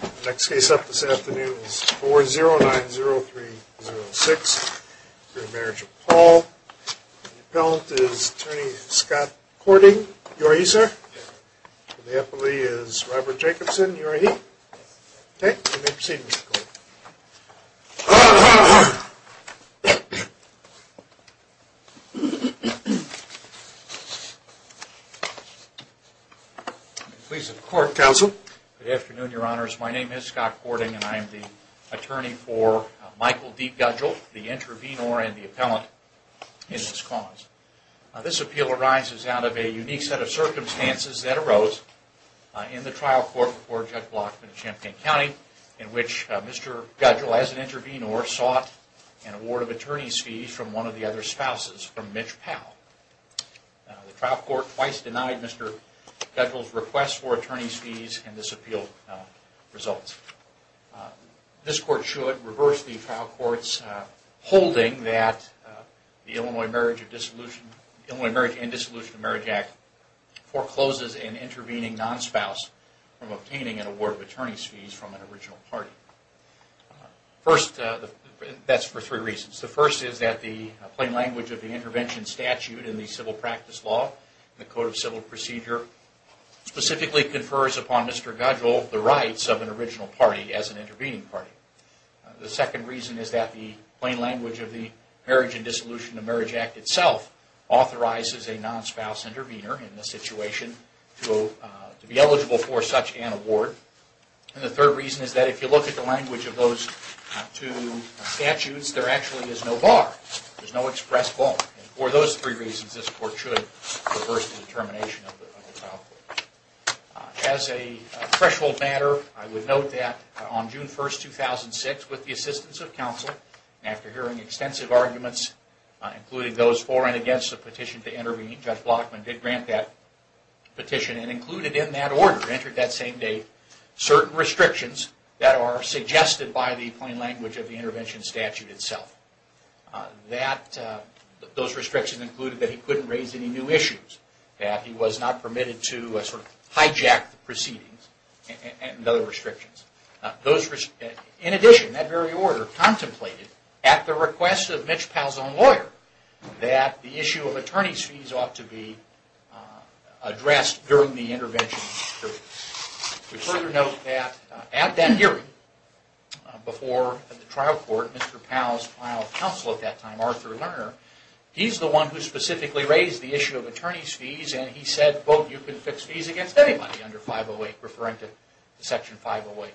The next case up this afternoon is 4090306 for the Marriage of Paul. The appellant is Attorney Scott Courting. You are he, sir? Yes. The appellee is Robert Jacobson. You are he? Yes. Okay. You may proceed, Mr. Courting. I'm pleased to report, Counsel. Good afternoon, Your Honors. My name is Scott Courting and I am the attorney for Michael D. Gudgel, the intervenor and the appellant in this cause. This appeal arises out of a unique set of circumstances that arose in the trial court before Judge Block in Champaign County in which Mr. Gudgel, as an intervenor, sought an award of attorney's fees from one of the other spouses, from Mitch Powell. The trial court twice denied Mr. Gudgel's request for attorney's fees and this appeal results. This court should reverse the trial court's holding that the Illinois Marriage and Dissolution of Marriage Act forecloses in intervening non-spouse from obtaining an award of attorney's fees from an original party. First, that's for three reasons. The first is that the plain language of the intervention statute in the Civil Practice Law, the Code of Civil Procedure, specifically confers upon Mr. Gudgel the rights of an original party as an intervening party. The second reason is that the plain language of the Marriage and Dissolution of Marriage Act itself authorizes a non-spouse intervenor in this situation to be eligible for such an award. And the third reason is that if you look at the language of those two statutes, there actually is no bar. There's no express bar. For those three reasons, this court should reverse the determination of the trial court. As a threshold matter, I would note that on June 1, 2006, with the assistance of counsel, after hearing extensive arguments, including those for and against the petition to intervene, Judge Blockman did grant that petition and included in that order, entered that same day, certain restrictions that are suggested by the plain language of the intervention statute itself. Those restrictions included that he couldn't raise any new issues, that he was not permitted to hijack the proceedings, and other restrictions. In addition, that very order contemplated, at the request of Mitch Palzone, lawyer, that the issue of attorney's fees ought to be addressed during the intervention period. We further note that at that hearing, before the trial court, Mr. Pal's final counsel at that time, Arthur Lerner, he's the one who specifically raised the issue of attorney's fees and he said, quote, you can fix fees against anybody under 508, referring to Section 508.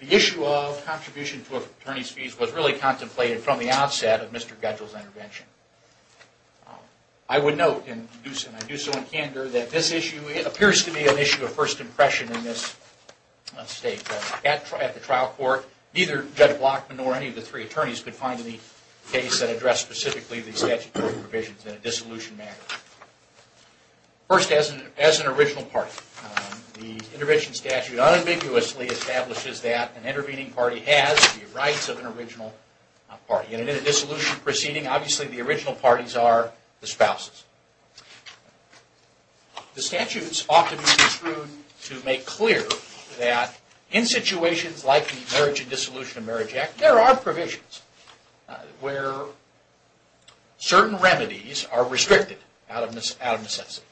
The issue of contribution to attorney's fees was really contemplated from the outset of Mr. Guedjell's intervention. I would note, and I do so in candor, that this issue appears to be an issue of first impression in this state. At the trial court, neither Judge Blockman nor any of the three attorneys could find any case that addressed specifically the statutory provisions in a dissolution matter. First, as an original party, the intervention statute unambiguously establishes that an intervening party has the rights of an original party. In a dissolution proceeding, obviously the original parties are the spouses. The statutes ought to be construed to make clear that in situations like the Marriage and Dissolution of Marriage Act, there are provisions where certain remedies are restricted out of necessity.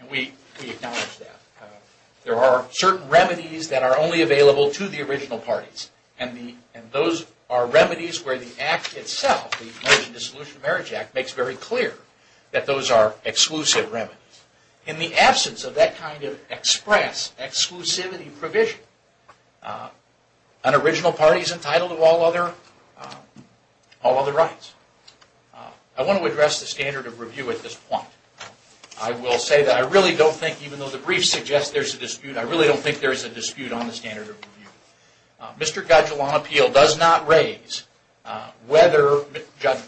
And we acknowledge that. There are certain remedies that are only available to the original parties. And those are remedies where the Act itself, the Marriage and Dissolution of Marriage Act, makes very clear that those are exclusive remedies. In the absence of that kind of express exclusivity provision, an original party is entitled to all other rights. I want to address the standard of review at this point. I will say that I really don't think, even though the brief suggests there's a dispute, I really don't think there's a dispute on the standard of review. Mr. Gadjilan's appeal does not raise whether Judge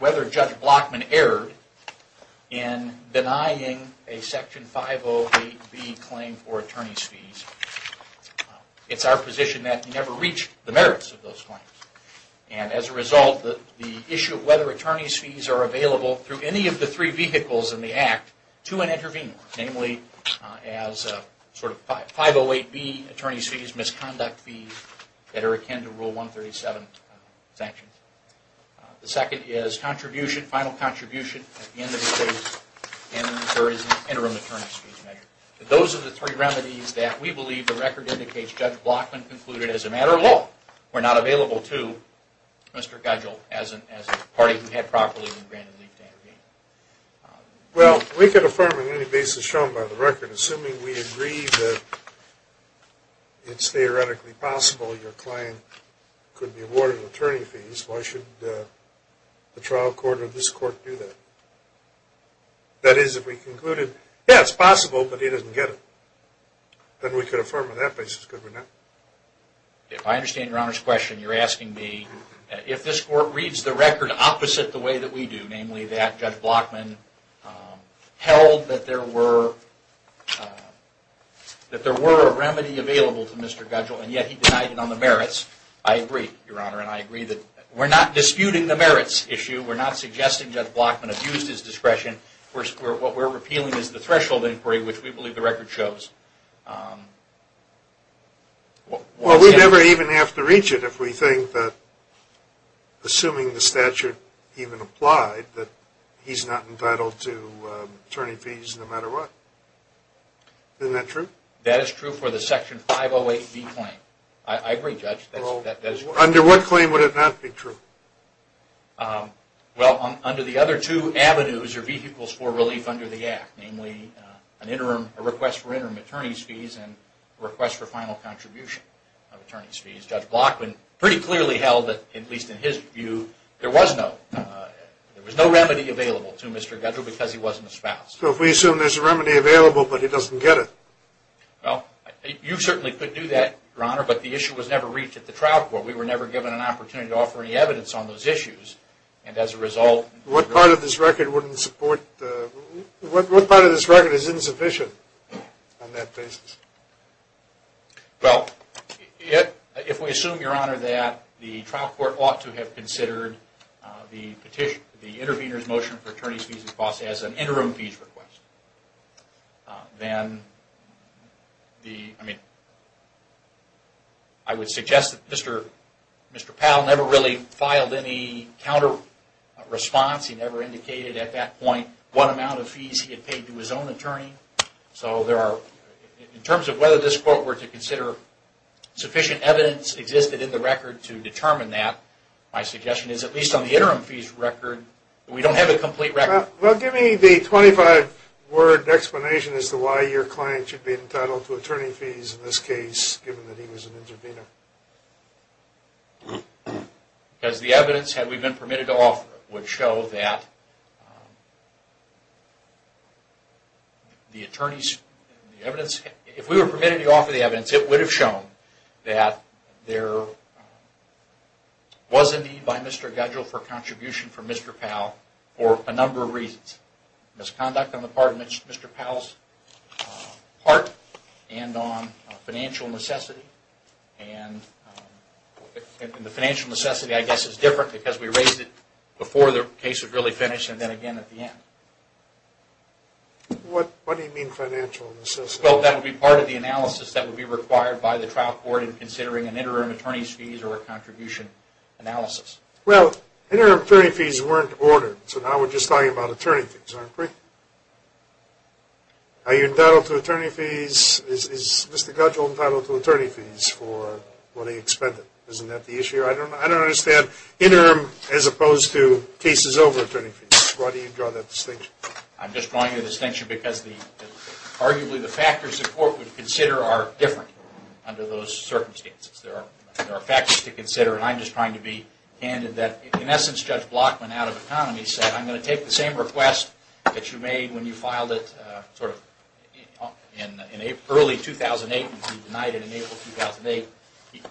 Blockman erred in denying a Section 508B claim for attorney's fees. It's our position that he never reached the merits of those claims. And as a result, the issue of whether attorney's fees are available through any of the three vehicles in the Act to an intervener, namely as a 508B attorney's fees, misconduct fees, that are akin to Rule 137 sanctions. The second is contribution, final contribution at the end of the case. And the third is an interim attorney's fees measure. Those are the three remedies that we believe the record indicates Judge Blockman concluded as a matter of law were not available to Mr. Gadjilan as a party who had properly been granted leave to intervene. Well, we could affirm on any basis shown by the record. Assuming we agree that it's theoretically possible your client could be awarded attorney fees, why should the trial court or this court do that? That is, if we concluded, yeah, it's possible, but he doesn't get it, then we could affirm on that basis, could we not? If I understand Your Honor's question, you're asking me if this court reads the record opposite the way that we do, namely that Judge Blockman held that there were a remedy available to Mr. Gadjilan, yet he denied it on the merits. I agree, Your Honor, and I agree that we're not disputing the merits issue. We're not suggesting Judge Blockman abused his discretion. What we're appealing is the threshold inquiry, which we believe the record shows. Well, we never even have to reach it if we think that, assuming the statute even applied, that he's not entitled to attorney fees no matter what. Isn't that true? That is true for the Section 508B claim. I agree, Judge, that is true. Under what claim would it not be true? Well, under the other two avenues, or V equals 4 relief under the Act, namely a request for interim attorney's fees and a request for final contribution of attorney's fees. Judge Blockman pretty clearly held that, at least in his view, there was no remedy available to Mr. Gadjilan because he wasn't a spouse. So if we assume there's a remedy available but he doesn't get it? Well, you certainly could do that, Your Honor, but the issue was never reached at the trial court. We were never given an opportunity to offer any evidence on those issues, and as a result... What part of this record is insufficient on that basis? Well, if we assume, Your Honor, that the trial court ought to have considered the intervener's motion for attorney's fees and costs as an interim fees request, then I would suggest that Mr. Powell never really filed any counter response. He never indicated at that point what amount of fees he had paid to his own attorney. So in terms of whether this court were to consider sufficient evidence existed in the record to determine that, my suggestion is, at least on the interim fees record, we don't have a complete record. Well, give me the 25-word explanation as to why your client should be entitled to attorney fees in this case, given that he was an intervener. Because the evidence, had we been permitted to offer it, would show that the attorney's evidence... If we were permitted to offer the evidence, it would have shown that there was a need by Mr. Gadjilan for a contribution from Mr. Powell for a number of reasons. Misconduct on the part of Mr. Powell's part, and on financial necessity. And the financial necessity, I guess, is different because we raised it before the case was really finished, and then again at the end. What do you mean financial necessity? Well, that would be part of the analysis that would be required by the trial court in considering an interim attorney's fees or a contribution analysis. Well, interim attorney fees weren't ordered, so now we're just talking about attorney fees, aren't we? Are you entitled to attorney fees? Is Mr. Gadjilan entitled to attorney fees for what he expended? Isn't that the issue? I don't understand interim as opposed to cases over attorney fees. Why do you draw that distinction? I'm just drawing that distinction because arguably the factors the court would consider are different under those circumstances. There are factors to consider, and I'm just trying to be candid. In essence, Judge Block went out of economy and said, I'm going to take the same request that you made when you filed it sort of in early 2008. You denied it in April 2008.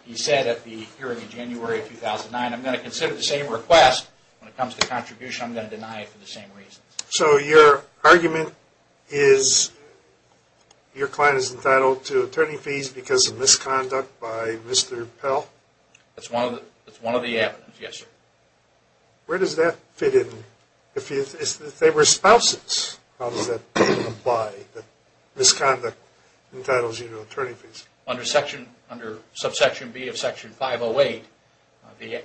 He said at the hearing in January of 2009, I'm going to consider the same request when it comes to contribution. I'm going to deny it for the same reasons. So your argument is your client is entitled to attorney fees because of misconduct by Mr. Pell? That's one of the evidence, yes, sir. Where does that fit in? If they were spouses, how does that apply, that misconduct entitles you to attorney fees? Under subsection B of section 508,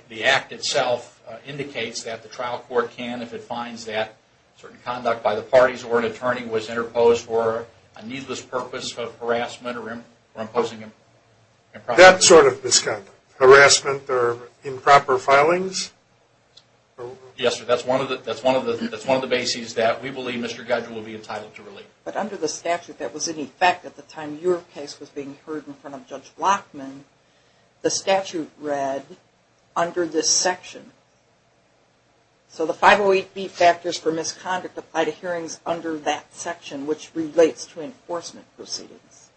the act itself indicates that the trial court can, if it finds that certain conduct by the parties or an attorney was interposed for a needless purpose of harassment or imposing improper... That sort of misconduct, harassment or improper filings? Yes, sir. That's one of the bases that we believe Mr. Gudge will be entitled to relief. But under the statute that was in effect at the time your case was being heard in front of Judge Blockman, the statute read under this section. So the 508B factors for misconduct apply to hearings under that section, which relates to enforcement proceedings.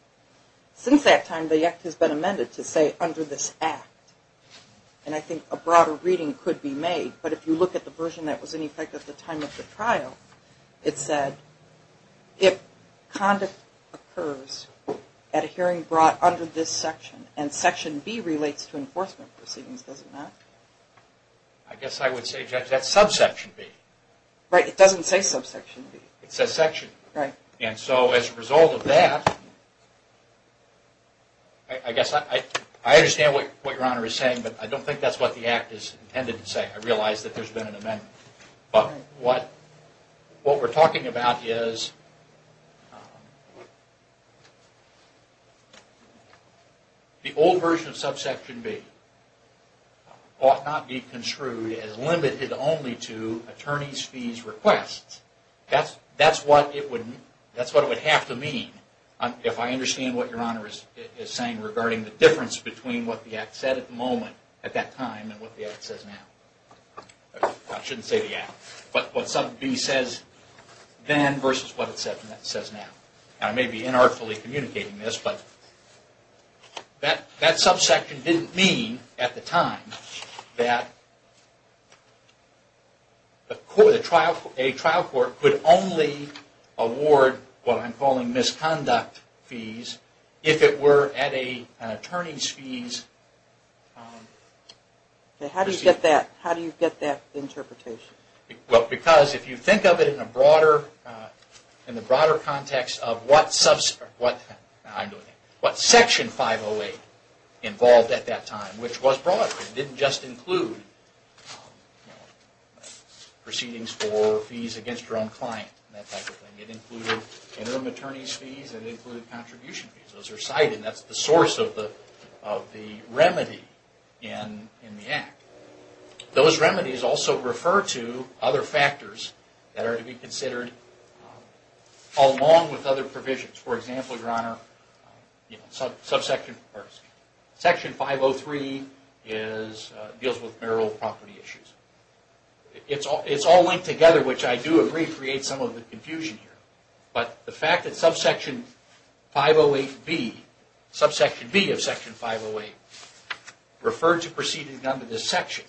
Since that time, the act has been amended to say under this act. And I think a broader reading could be made, but if you look at the version that was in effect at the time of the trial, it said if conduct occurs at a hearing brought under this section, and section B relates to enforcement proceedings, does it not? I guess I would say, Judge, that's subsection B. Right, it doesn't say subsection B. It says section B. Right. And so as a result of that, I guess I understand what Your Honor is saying, but I don't think that's what the act is intended to say. I realize that there's been an amendment. But what we're talking about is the old version of subsection B ought not be construed as limited only to attorney's fees requests. That's what it would have to mean if I understand what Your Honor is saying regarding the difference between what the act said at the moment at that time and what the act says now. I shouldn't say the act, but what subsection B says then versus what it says now. I may be inartfully communicating this, but that subsection didn't mean at the time that a trial court could only award what I'm calling misconduct fees if it were at an attorney's fees. How do you get that interpretation? Because if you think of it in the broader context of what section 508 involved at that time, which was brought up, it didn't just include proceedings for fees against your own client. It included interim attorney's fees. It included contribution fees. Those are cited. That's the source of the remedy in the act. Those remedies also refer to other factors that are to be considered along with other provisions. For example, Your Honor, section 503 deals with marital property issues. It's all linked together, which I do agree creates some of the confusion here. But the fact that subsection B of section 508 referred to proceedings under this section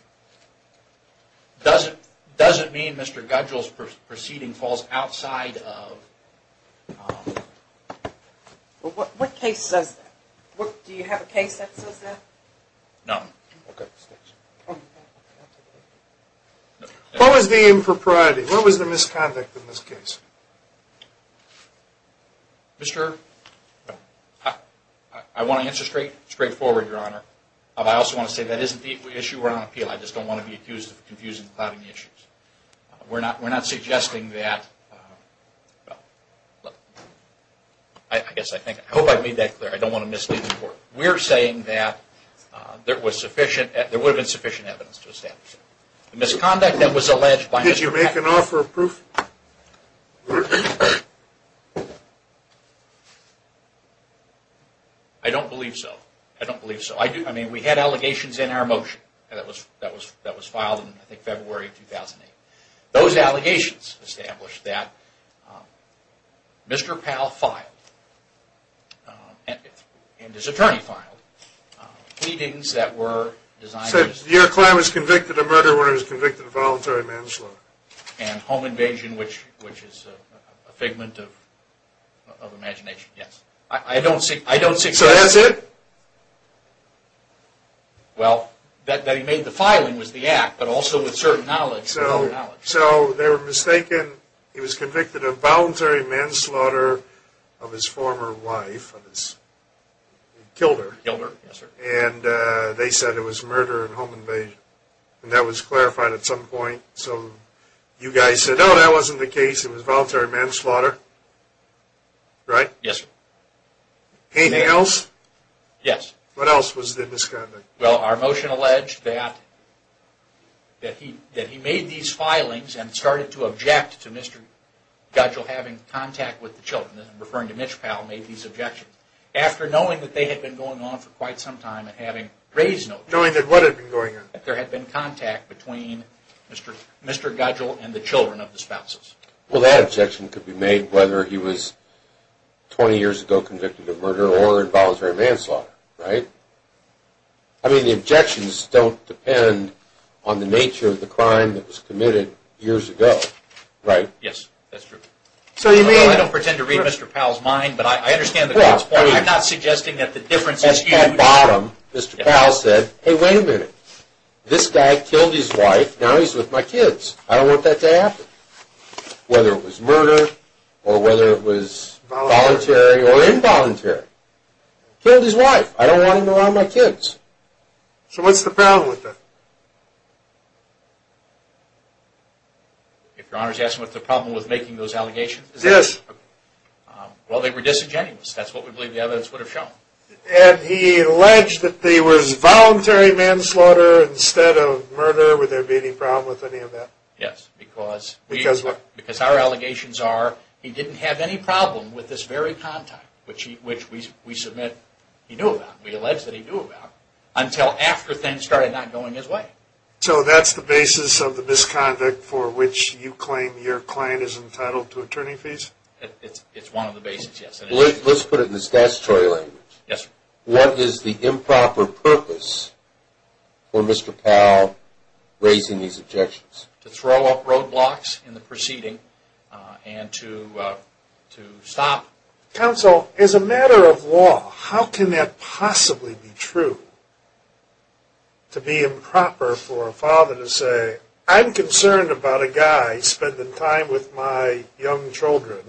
doesn't mean Mr. Gudgell's proceeding falls outside of... What case says that? Do you have a case that says that? No. What was the impropriety? What was the misconduct in this case? I want to answer straight forward, Your Honor. I also want to say that isn't the issue. We're not on appeal. I just don't want to be accused of confusing and clouding issues. We're not suggesting that... I hope I made that clear. I don't want to mislead the court. We're saying that there would have been sufficient evidence to establish that. The misconduct that was alleged by Mr. Pal... Did you make an offer of proof? I don't believe so. I don't believe so. We had allegations in our motion that was filed in February 2008. Those allegations established that Mr. Pal filed, and his attorney filed, pleadings that were designed... Your client was convicted of murder when he was convicted of voluntary manslaughter. And home invasion, which is a figment of imagination. Yes. I don't see... So that's it? Well, that he made the filing was the act, but also with certain knowledge. So they were mistaken. He was convicted of voluntary manslaughter of his former wife. He killed her. Killed her, yes, sir. And they said it was murder and home invasion. And that was clarified at some point. So you guys said, oh, that wasn't the case. It was voluntary manslaughter. Right? Yes, sir. Anything else? Yes. What else was the misconduct? Well, our motion alleged that he made these filings and started to object to Mr. Gudgel having contact with the children. I'm referring to Mitch Pal made these objections. After knowing that they had been going on for quite some time and having raised notice... Knowing that what had been going on? That there had been contact between Mr. Gudgel and the children of the spouses. Well, that objection could be made whether he was 20 years ago convicted of murder or in voluntary manslaughter. Right? I mean, the objections don't depend on the nature of the crime that was committed years ago. Right? Yes, that's true. So you may not pretend to read Mr. Pal's mind, but I understand the point. I'm not suggesting that the difference is huge. At the bottom, Mr. Pal said, hey, wait a minute. This guy killed his wife. Now he's with my kids. I don't want that to happen. Whether it was murder or whether it was voluntary or involuntary. Killed his wife. I don't want him around my kids. So what's the problem with that? If Your Honor is asking what's the problem with making those allegations? Yes. Well, they were disingenuous. That's what we believe the evidence would have shown. And he alleged that there was voluntary manslaughter instead of murder. Would there be any problem with any of that? Yes, because our allegations are he didn't have any problem with this very contact, which we submit he knew about. We allege that he knew about until after things started not going his way. So that's the basis of the misconduct for which you claim your client is entitled to attorney fees? It's one of the bases, yes. Let's put it in the statutory language. Yes, sir. What is the improper purpose for Mr. Powell raising these objections? To throw up roadblocks in the proceeding and to stop. Counsel, as a matter of law, how can that possibly be true? To be improper for a father to say, I'm concerned about a guy spending time with my young children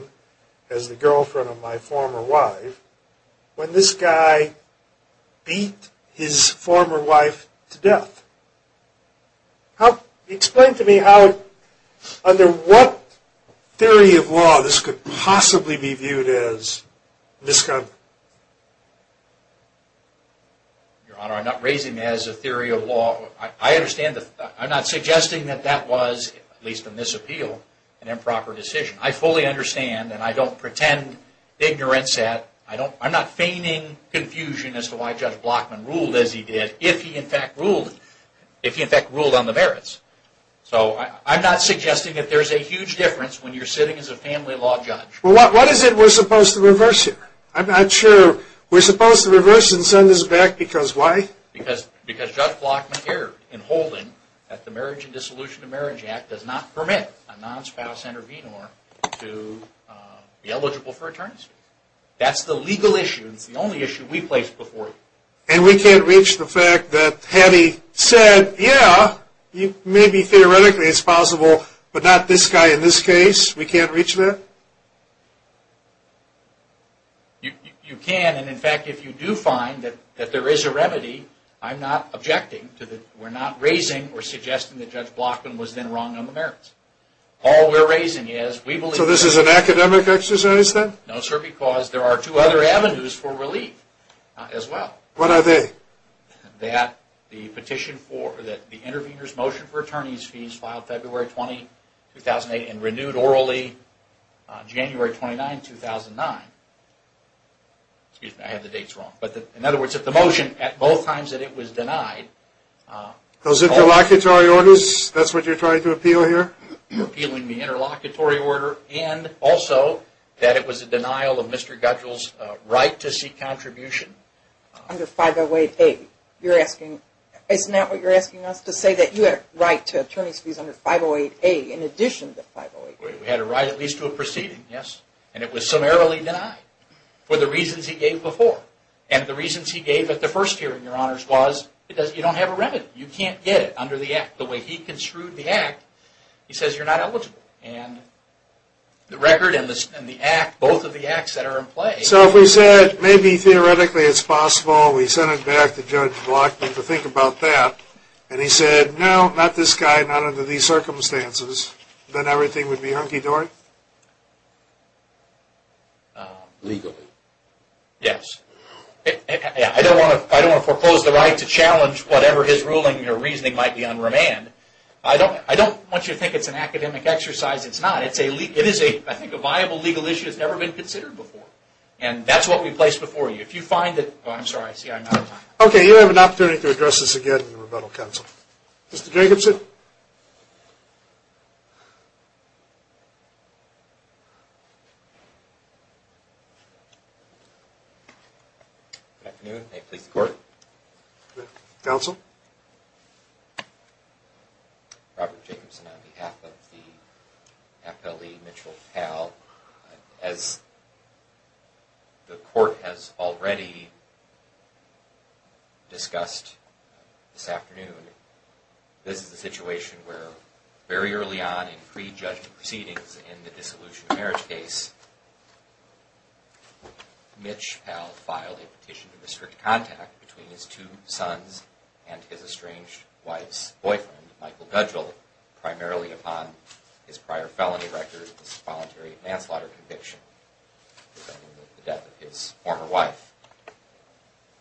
as the girlfriend of my former wife, when this guy beat his former wife to death. Explain to me how, under what theory of law, this could possibly be viewed as misconduct? Your Honor, I'm not raising it as a theory of law. I understand, I'm not suggesting that that was, at least in this appeal, an improper decision. I fully understand and I don't pretend ignorance at. I'm not feigning confusion as to why Judge Blockman ruled as he did, if he in fact ruled. If he in fact ruled on the merits. So, I'm not suggesting that there's a huge difference when you're sitting as a family law judge. Well, what is it we're supposed to reverse here? I'm not sure. We're supposed to reverse and send this back because why? Because Judge Blockman erred in holding that the Marriage and Dissolution of Marriage Act does not permit a non-spouse intervenor to be eligible for attorney fees. That's the legal issue. It's the only issue we place before you. And we can't reach the fact that had he said, yeah, maybe theoretically it's possible, but not this guy in this case? We can't reach that? You can, and in fact, if you do find that there is a remedy, I'm not objecting to that. We're not raising or suggesting that Judge Blockman was then wrong on the merits. All we're raising is we believe... So, this is an academic exercise then? No, sir, because there are two other avenues for relief as well. What are they? That the petition for, that the intervenor's motion for attorney's fees filed February 20, 2008 and renewed orally January 29, 2009. Excuse me, I have the dates wrong. But in other words, if the motion at both times that it was denied... Those interlocutory orders? That's what you're trying to appeal here? Appealing the interlocutory order and also that it was a denial of Mr. Gudgel's right to seek contribution. Under 508A, you're asking, isn't that what you're asking us to say? That you had a right to attorney's fees under 508A in addition to 508A? We had a right at least to a proceeding, yes. And it was summarily denied for the reasons he gave before. And the reasons he gave at the first hearing, Your Honors, was because you don't have a remedy. You can't get it under the act the way he construed the act. He says you're not eligible. And the record and the act, both of the acts that are in play... So if we said, maybe theoretically it's possible, we sent it back to Judge Blockman to think about that, and he said, no, not this guy, not under these circumstances, then everything would be hunky-dory? Legally. Yes. I don't want to propose the right to challenge whatever his ruling or reasoning might be on remand. I don't want you to think it's an academic exercise. It's not. It is, I think, a viable legal issue that's never been considered before. And that's what we place before you. If you find that... Oh, I'm sorry. I'm out of time. You have an opportunity to address this again in the rebuttal, Counsel. Mr. Jacobson? Good afternoon. May it please the Court. Counsel? Robert Jacobson on behalf of the appellee, Mitchell Powell. As the Court has already discussed this afternoon, this is a situation where very early on in pre-judgment proceedings in the dissolution of marriage case, Mitch Powell filed a petition to restrict contact between his two sons and his estranged wife's boyfriend, Michael Gudgel, primarily upon his prior felony record as a voluntary manslaughter conviction, defending the death of his former wife.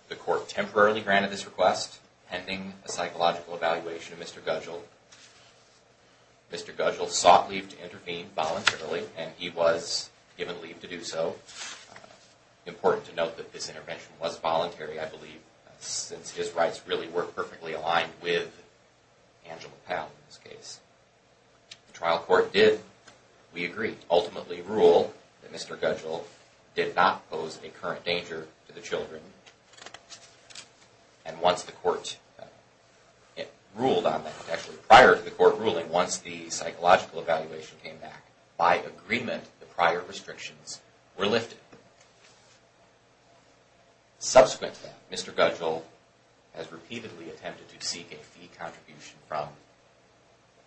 The Court temporarily granted this request, pending a psychological evaluation of Mr. Gudgel. Mr. Gudgel sought leave to intervene voluntarily, and he was given leave to do so. Important to note that this intervention was voluntary, I believe, since his rights really were perfectly aligned with Angela Powell's case. The trial court did, we agree, ultimately rule that Mr. Gudgel did not pose a current danger to the children. And once the court ruled on that, actually prior to the court ruling, once the psychological evaluation came back, by agreement, the prior restrictions were lifted. Subsequent to that, Mr. Gudgel has repeatedly attempted to seek a fee contribution from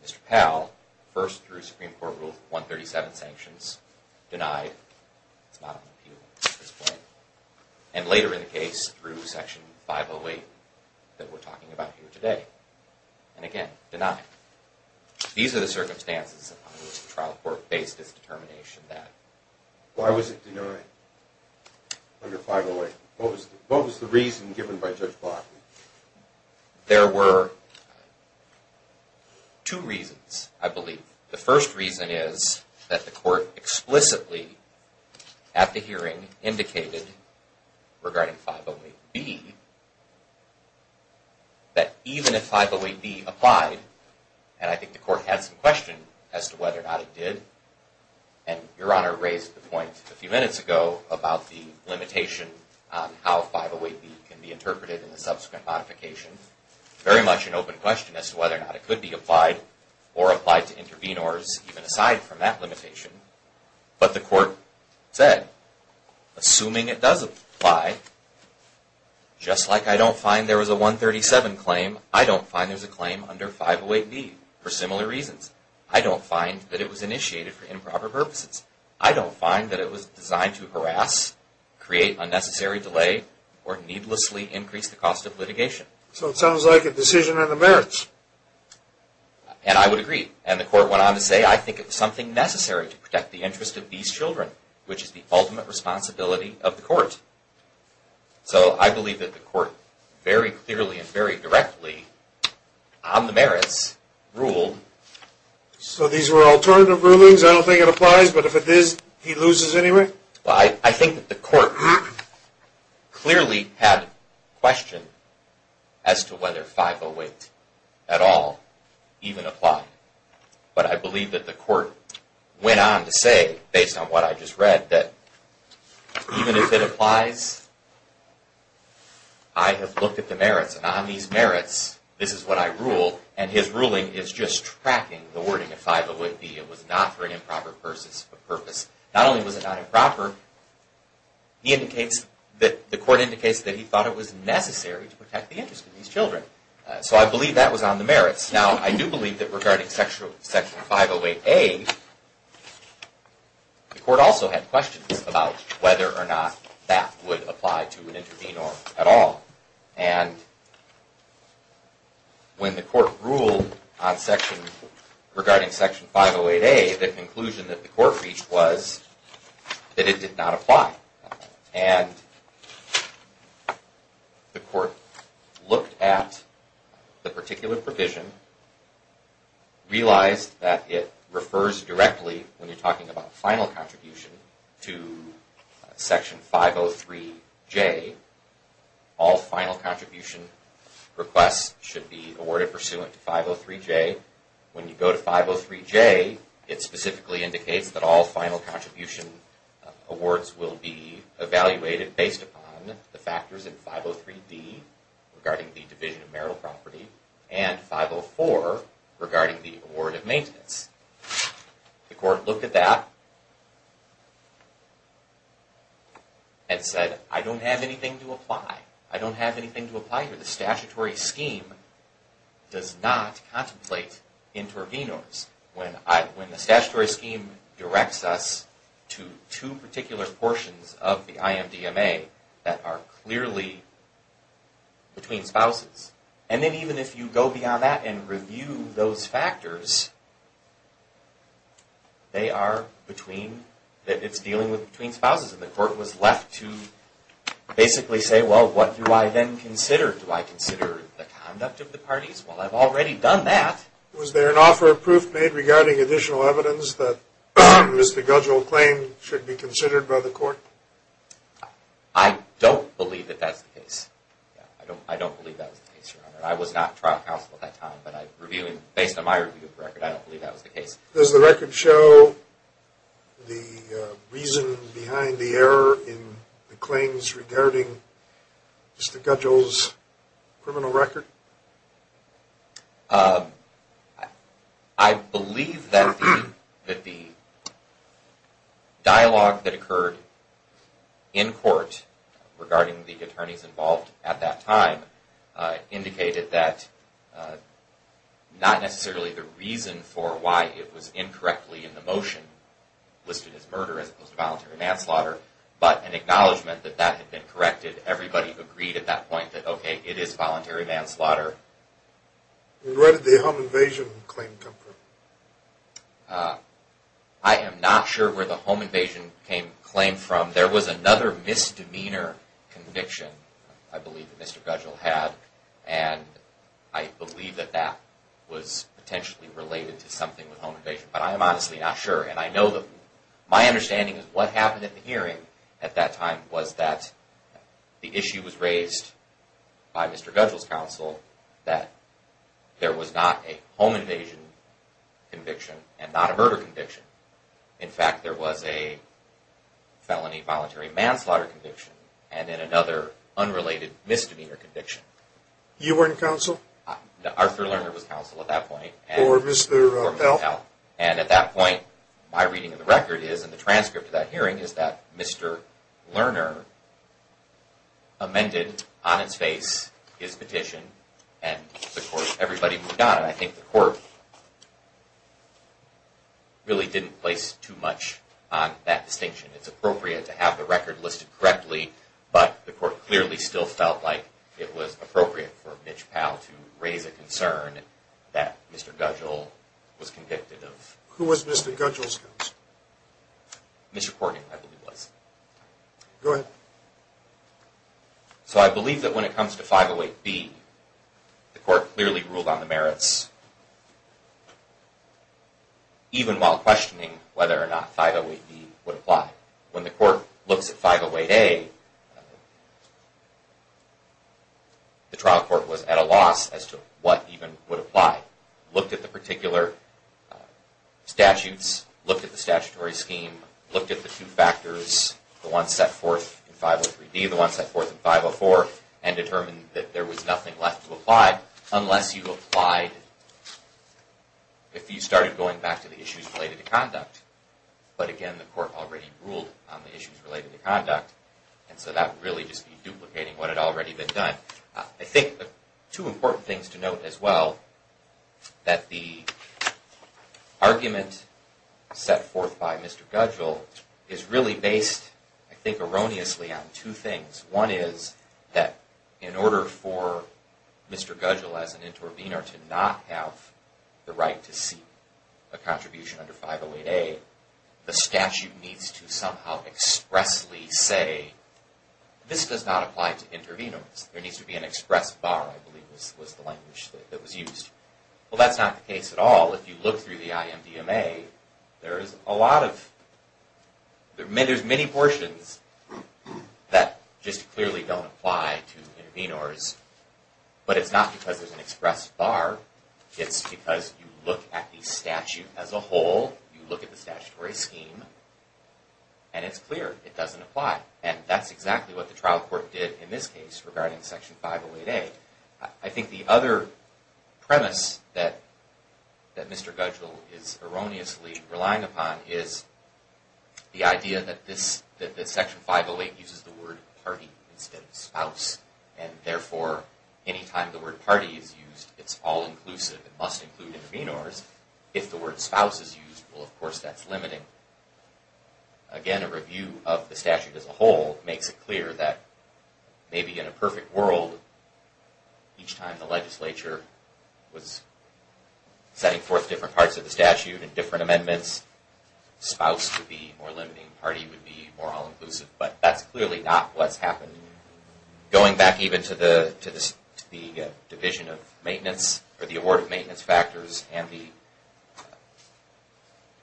Mr. Powell, first through Supreme Court Rule 137 sanctions, denied. It's not on appeal at this point. And later in the case, through Section 508 that we're talking about here today. And again, denied. These are the circumstances under which the trial court faced its determination that... Why was it denied under 508? What was the reason given by Judge Block? There were two reasons, I believe. The first reason is that the court explicitly, at the hearing, indicated, regarding 508B, that even if 508B applied, and I think the court had some question as to whether or not it did, and Your Honor raised the point a few minutes ago about the limitation on how 508B can be interpreted in the subsequent modification. Very much an open question as to whether or not it could be applied or applied to intervene orders, even aside from that limitation. But the court said, assuming it does apply, just like I don't find there was a 137 claim, I don't find there's a claim under 508B for similar reasons. I don't find that it was initiated for improper purposes. I don't find that it was designed to harass, create unnecessary delay, or needlessly increase the cost of litigation. So it sounds like a decision on the merits. And I would agree. And the court went on to say, I think it was something necessary to protect the interest of these children, which is the ultimate responsibility of the court. So I believe that the court very clearly and very directly, on the merits, ruled. So these were alternative rulings? I don't think it applies, but if it is, he loses anyway? Well, I think that the court clearly had a question as to whether 508 at all even applied. But I believe that the court went on to say, based on what I just read, that even if it applies, I have looked at the merits, and on these merits, this is what I rule. And his ruling is just tracking the wording of 508B. It was not for an improper purpose. Not only was it not improper, the court indicates that he thought it was necessary to protect the interest of these children. So I believe that was on the merits. Now, I do believe that regarding Section 508A, the court also had questions about whether or not that would apply to an intervenor at all. And when the court ruled regarding Section 508A, the conclusion that the court reached was that it did not apply. And the court looked at the particular provision, realized that it refers directly, when you're talking about final contribution, to Section 503J. All final contribution requests should be awarded pursuant to 503J. When you go to 503J, it specifically indicates that all final contribution awards will be evaluated based upon the factors in 503D, regarding the division of marital property, and 504, regarding the award of maintenance. The court looked at that and said, I don't have anything to apply. I don't have anything to apply here. The statutory scheme does not contemplate intervenors. When the statutory scheme directs us to two particular portions of the IMDMA that are clearly between spouses. And then even if you go beyond that and review those factors, they are between, that it's dealing between spouses. And the court was left to basically say, well, what do I then consider? Do I consider the conduct of the parties? Well, I've already done that. Was there an offer of proof made regarding additional evidence that Mr. Gudgell claimed should be considered by the court? I don't believe that that's the case. I don't believe that was the case, Your Honor. I was not trial counsel at that time, but based on my review of the record, I don't believe that was the case. Does the record show the reason behind the error in the claims regarding Mr. Gudgell's criminal record? I believe that the dialogue that occurred in court regarding the attorneys involved at that time indicated that not necessarily the reason for why it was incorrectly in the motion listed as murder as opposed to voluntary manslaughter, but an acknowledgment that that had been corrected. Everybody agreed at that point that, okay, it is voluntary manslaughter. And where did the home invasion claim come from? I am not sure where the home invasion claim came from. There was another misdemeanor conviction, I believe, that Mr. Gudgell had, and I believe that that was potentially related to something with home invasion, but I am honestly not sure. And I know that my understanding is what happened in the hearing at that time was that the issue was raised by Mr. Gudgell's counsel that there was not a home invasion conviction and not a murder conviction. In fact, there was a felony voluntary manslaughter conviction and then another unrelated misdemeanor conviction. You weren't counsel? Arthur Lerner was counsel at that point. Or Mr. Pell? And at that point, my reading of the record is, and the transcript of that hearing, is that Mr. Lerner amended on its face his petition and everybody moved on. And I think the court really didn't place too much on that distinction. It's appropriate to have the record listed correctly, but the court clearly still felt like it was appropriate for Mitch Pell to raise a concern that Mr. Gudgell was convicted of... Who was Mr. Gudgell's counsel? Mr. Corgan, I believe it was. Go ahead. So I believe that when it comes to 508B, the court clearly ruled on the merits, even while questioning whether or not 508B would apply. When the court looks at 508A, the trial court was at a loss as to what even would apply. Looked at the particular statutes, looked at the statutory scheme, looked at the two factors, the one set forth in 503D, the one set forth in 504, and determined that there was nothing left to apply unless you applied... If you started going back to the issues related to conduct. But again, the court already ruled on the issues related to conduct, and so that would really just be duplicating what had already been done. I think two important things to note as well, that the argument set forth by Mr. Gudgell is really based, I think erroneously, on two things. One is that in order for Mr. Gudgell as an intervenor to not have the right to seek a contribution under 508A, the statute needs to somehow expressly say, this does not apply to intervenors. There needs to be an express bar, I believe was the language that was used. Well, that's not the case at all. If you look through the IMDMA, there's many portions that just clearly don't apply to intervenors. But it's not because there's an express bar, it's because you look at the statute as a whole, you look at the statutory scheme, and it's clear it doesn't apply. And that's exactly what the trial court did in this case regarding Section 508A. I think the other premise that Mr. Gudgell is erroneously relying upon is the idea that Section 508 uses the word party instead of spouse. And therefore, any time the word party is used, it's all-inclusive. It must include intervenors. If the word spouse is used, well, of course, that's limiting. Again, a review of the statute as a whole makes it clear that maybe in a perfect world, each time the legislature was setting forth different parts of the statute and different amendments, spouse would be more limiting, party would be more all-inclusive. But that's clearly not what's happening. Going back even to the award of maintenance factors and the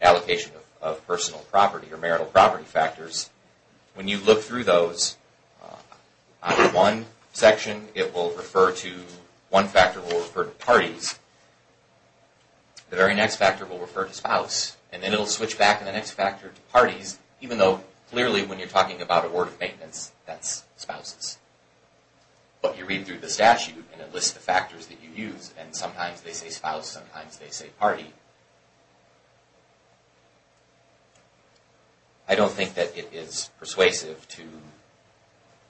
allocation of personal property or marital property factors, when you look through those, on one section, one factor will refer to parties. The very next factor will refer to spouse. And then it will switch back in the next factor to parties, even though clearly when you're talking about award of maintenance, that's spouses. But you read through the statute and it lists the factors that you use. And sometimes they say spouse, sometimes they say party. I don't think that it is persuasive to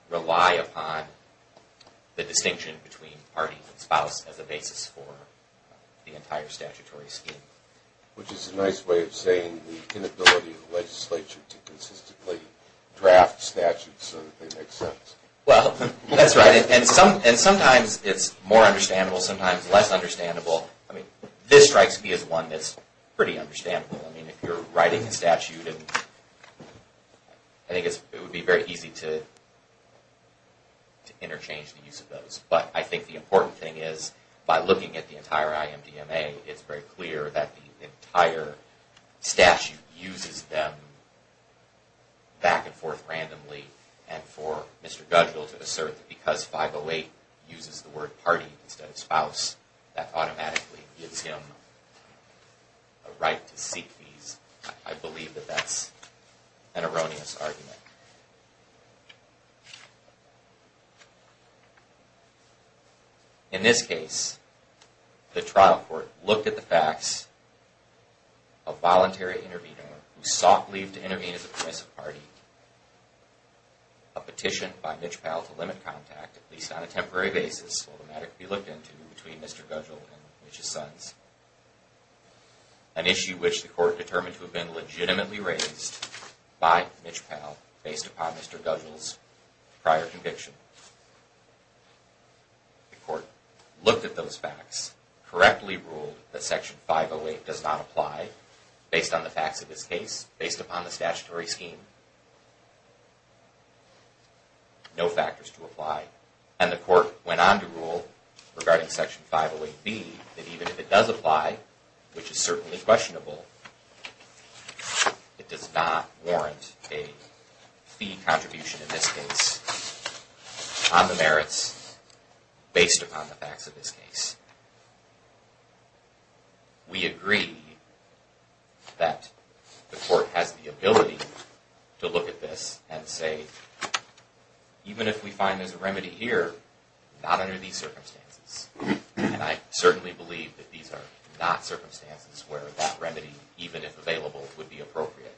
rely upon the distinction between party and spouse as a basis for the entire statutory scheme. Which is a nice way of saying the inability of the legislature to consistently draft statutes so that they make sense. Well, that's right. And sometimes it's more understandable, sometimes less understandable. I mean, this strikes me as one that's pretty understandable. I mean, if you're writing a statute, I think it would be very easy to interchange the use of those. But I think the important thing is, by looking at the entire IMDMA, it's very clear that the entire statute uses them back and forth randomly. And for Mr. Gudgell to assert that because 508 uses the word party instead of spouse, that automatically gives him a right to seek these. I believe that that's an erroneous argument. In this case, the trial court looked at the facts of voluntary intervenor who sought leave to intervene as a permissive party. A petition by Mitch Powell to limit contact, at least on a temporary basis, will automatically be looked into between Mr. Gudgell and Mitch's sons. An issue which the court determined to have been legitimately raised by Mitch Powell based upon Mr. Gudgell's prior conviction. The court looked at those facts, correctly ruled that Section 508 does not apply based on the facts of this case, based upon the statutory scheme. No factors to apply. And the court went on to rule regarding Section 508B, that even if it does apply, which is certainly questionable, it does not warrant a fee contribution in this case on the merits based upon the facts of this case. We agree that the court has the ability to look at this and say, even if we find there's a remedy here, not under these circumstances. And I certainly believe that these are not circumstances where that remedy, even if available, would be appropriate.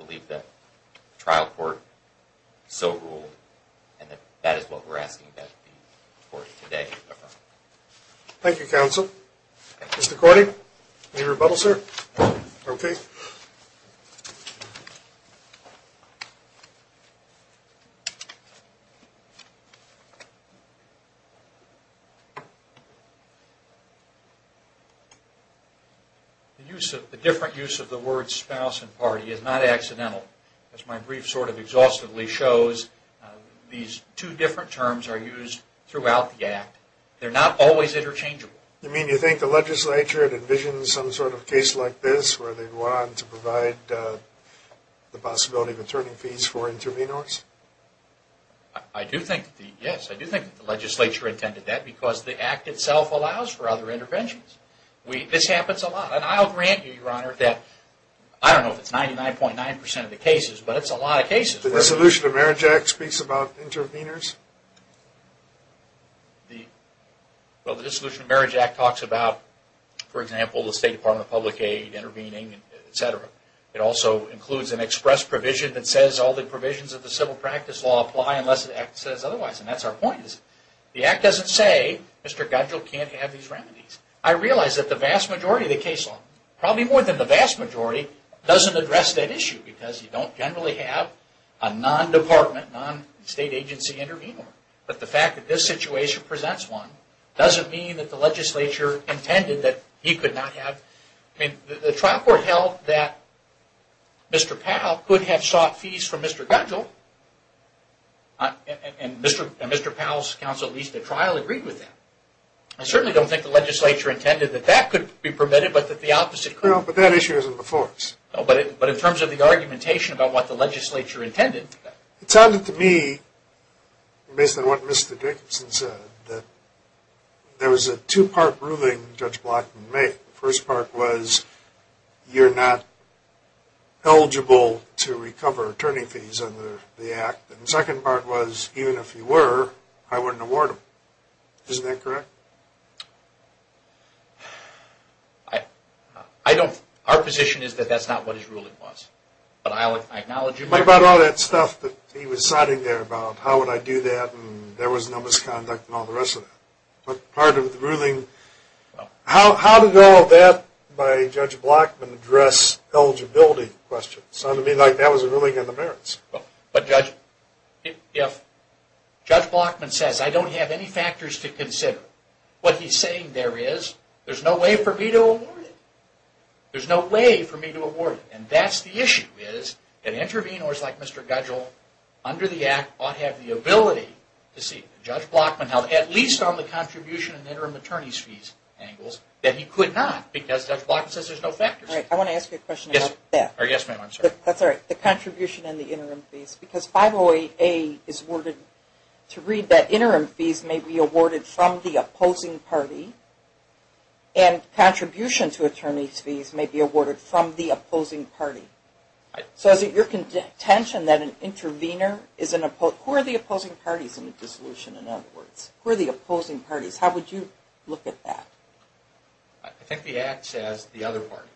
I believe that the trial court so ruled, and that is what we're asking that the court today affirm. Thank you, counsel. Mr. Corning, any rebuttal, sir? Okay. The different use of the words spouse and party is not accidental. As my brief sort of exhaustively shows, these two different terms are used throughout the act. They're not always interchangeable. You mean you think the legislature had envisioned some sort of case like this where they'd want to provide the possibility of returning fees for intervenors? Yes, I do think the legislature intended that because the act itself allows for other interventions. This happens a lot, and I'll grant you, Your Honor, that I don't know if it's 99.9% of the cases, but it's a lot of cases. The Dissolution of Marriage Act speaks about intervenors? Well, the Dissolution of Marriage Act talks about, for example, the State Department of Public Aid intervening, etc. It also includes an express provision that says all the provisions of the civil practice law apply unless the act says otherwise, and that's our point. The act doesn't say, Mr. Godgill can't have these remedies. I realize that the vast majority of the case law, probably more than the vast majority, doesn't address that issue because you don't generally have a non-department, non-state agency intervenor. But the fact that this situation presents one doesn't mean that the legislature intended that he could not have. The trial court held that Mr. Powell could have sought fees from Mr. Godgill, and Mr. Powell's counsel at least at trial agreed with that. I certainly don't think the legislature intended that that could be permitted, but that the opposite could. But that issue isn't before us. But in terms of the argumentation about what the legislature intended. It sounded to me, based on what Mr. Jacobson said, that there was a two-part ruling Judge Blackman made. The first part was, you're not eligible to recover attorney fees under the act. And the second part was, even if you were, I wouldn't award them. Isn't that correct? I don't, our position is that that's not what his ruling was. But I acknowledge him. What about all that stuff that he was citing there about how would I do that, and there was no misconduct and all the rest of that. Part of the ruling, how did all of that by Judge Blackman address eligibility questions? It sounded to me like that was a ruling in the merits. But Judge, if Judge Blackman says I don't have any factors to consider, what he's saying there is, there's no way for me to award it. There's no way for me to award it. And that's the issue, is that intervenors like Mr. Godgill, under the act, ought to have the ability to see. Judge Blackman held, at least on the contribution and interim attorneys fees angles, that he could not. Because Judge Blackman says there's no factors. I want to ask you a question about that. Yes ma'am, I'm sorry. The contribution and the interim fees. Because 508A is worded to read that interim fees may be awarded from the opposing party. And contribution to attorneys fees may be awarded from the opposing party. So is it your contention that an intervenor is an opposing... Who are the opposing parties in a dissolution, in other words? Who are the opposing parties? How would you look at that? I think the act says the other party.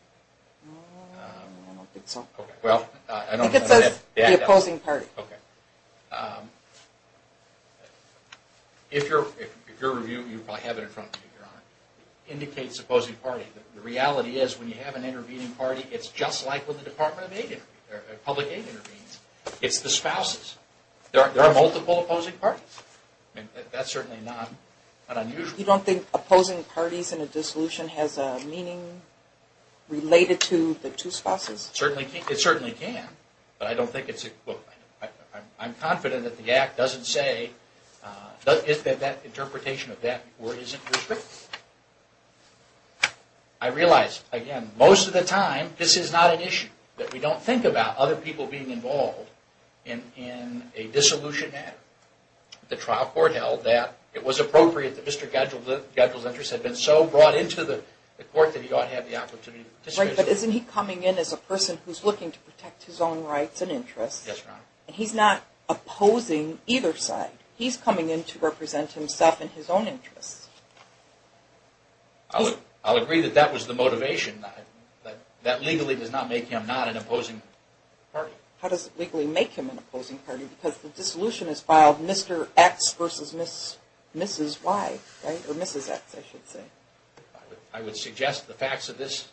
I don't think so. I think it says the opposing party. If you're reviewing, you probably have it in front of you, Your Honor. It indicates opposing party. The reality is when you have an intervening party, it's just like when the Department of Public Aid intervenes. It's the spouses. There are multiple opposing parties. That's certainly not unusual. You don't think opposing parties in a dissolution has a meaning related to the two spouses? It certainly can. But I don't think it's... I'm confident that the act doesn't say... That interpretation of that isn't restricted. I realize, again, most of the time, this is not an issue. That we don't think about other people being involved in a dissolution matter. The trial court held that it was appropriate that Mr. Gadgill's interest had been so brought into the court that he ought to have the opportunity to participate. But isn't he coming in as a person who's looking to protect his own rights and interests? Yes, Your Honor. He's not opposing either side. He's coming in to represent himself and his own interests. I'll agree that that was the motivation. That legally does not make him not an opposing party. How does it legally make him an opposing party? Because the dissolution is filed Mr. X versus Mrs. Y. Or Mrs. X, I should say. I would suggest the facts of this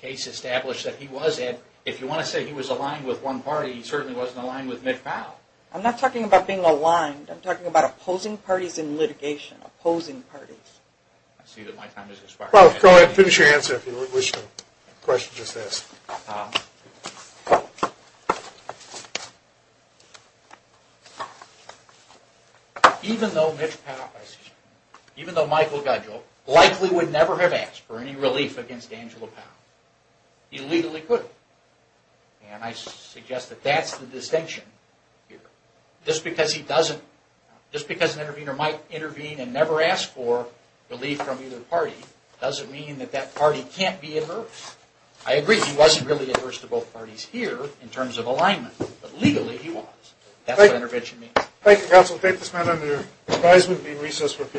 case establish that he was... If you want to say he was aligned with one party, he certainly wasn't aligned with Mitch Powell. I'm not talking about being aligned. I'm talking about opposing parties in litigation. Opposing parties. I see that my time has expired. Well, go ahead and finish your answer if you wish to. The question was just asked. Even though Michael Gudgell likely would never have asked for any relief against Angela Powell, he legally could. And I suggest that that's the distinction here. Just because an intervener might intervene and never ask for relief from either party doesn't mean that that party can't be adverse. I agree he wasn't really adverse to both parties here in terms of alignment. But legally he was. That's what intervention means. Thank you, counsel. Take this man under your advisement. Be in recess for a few minutes.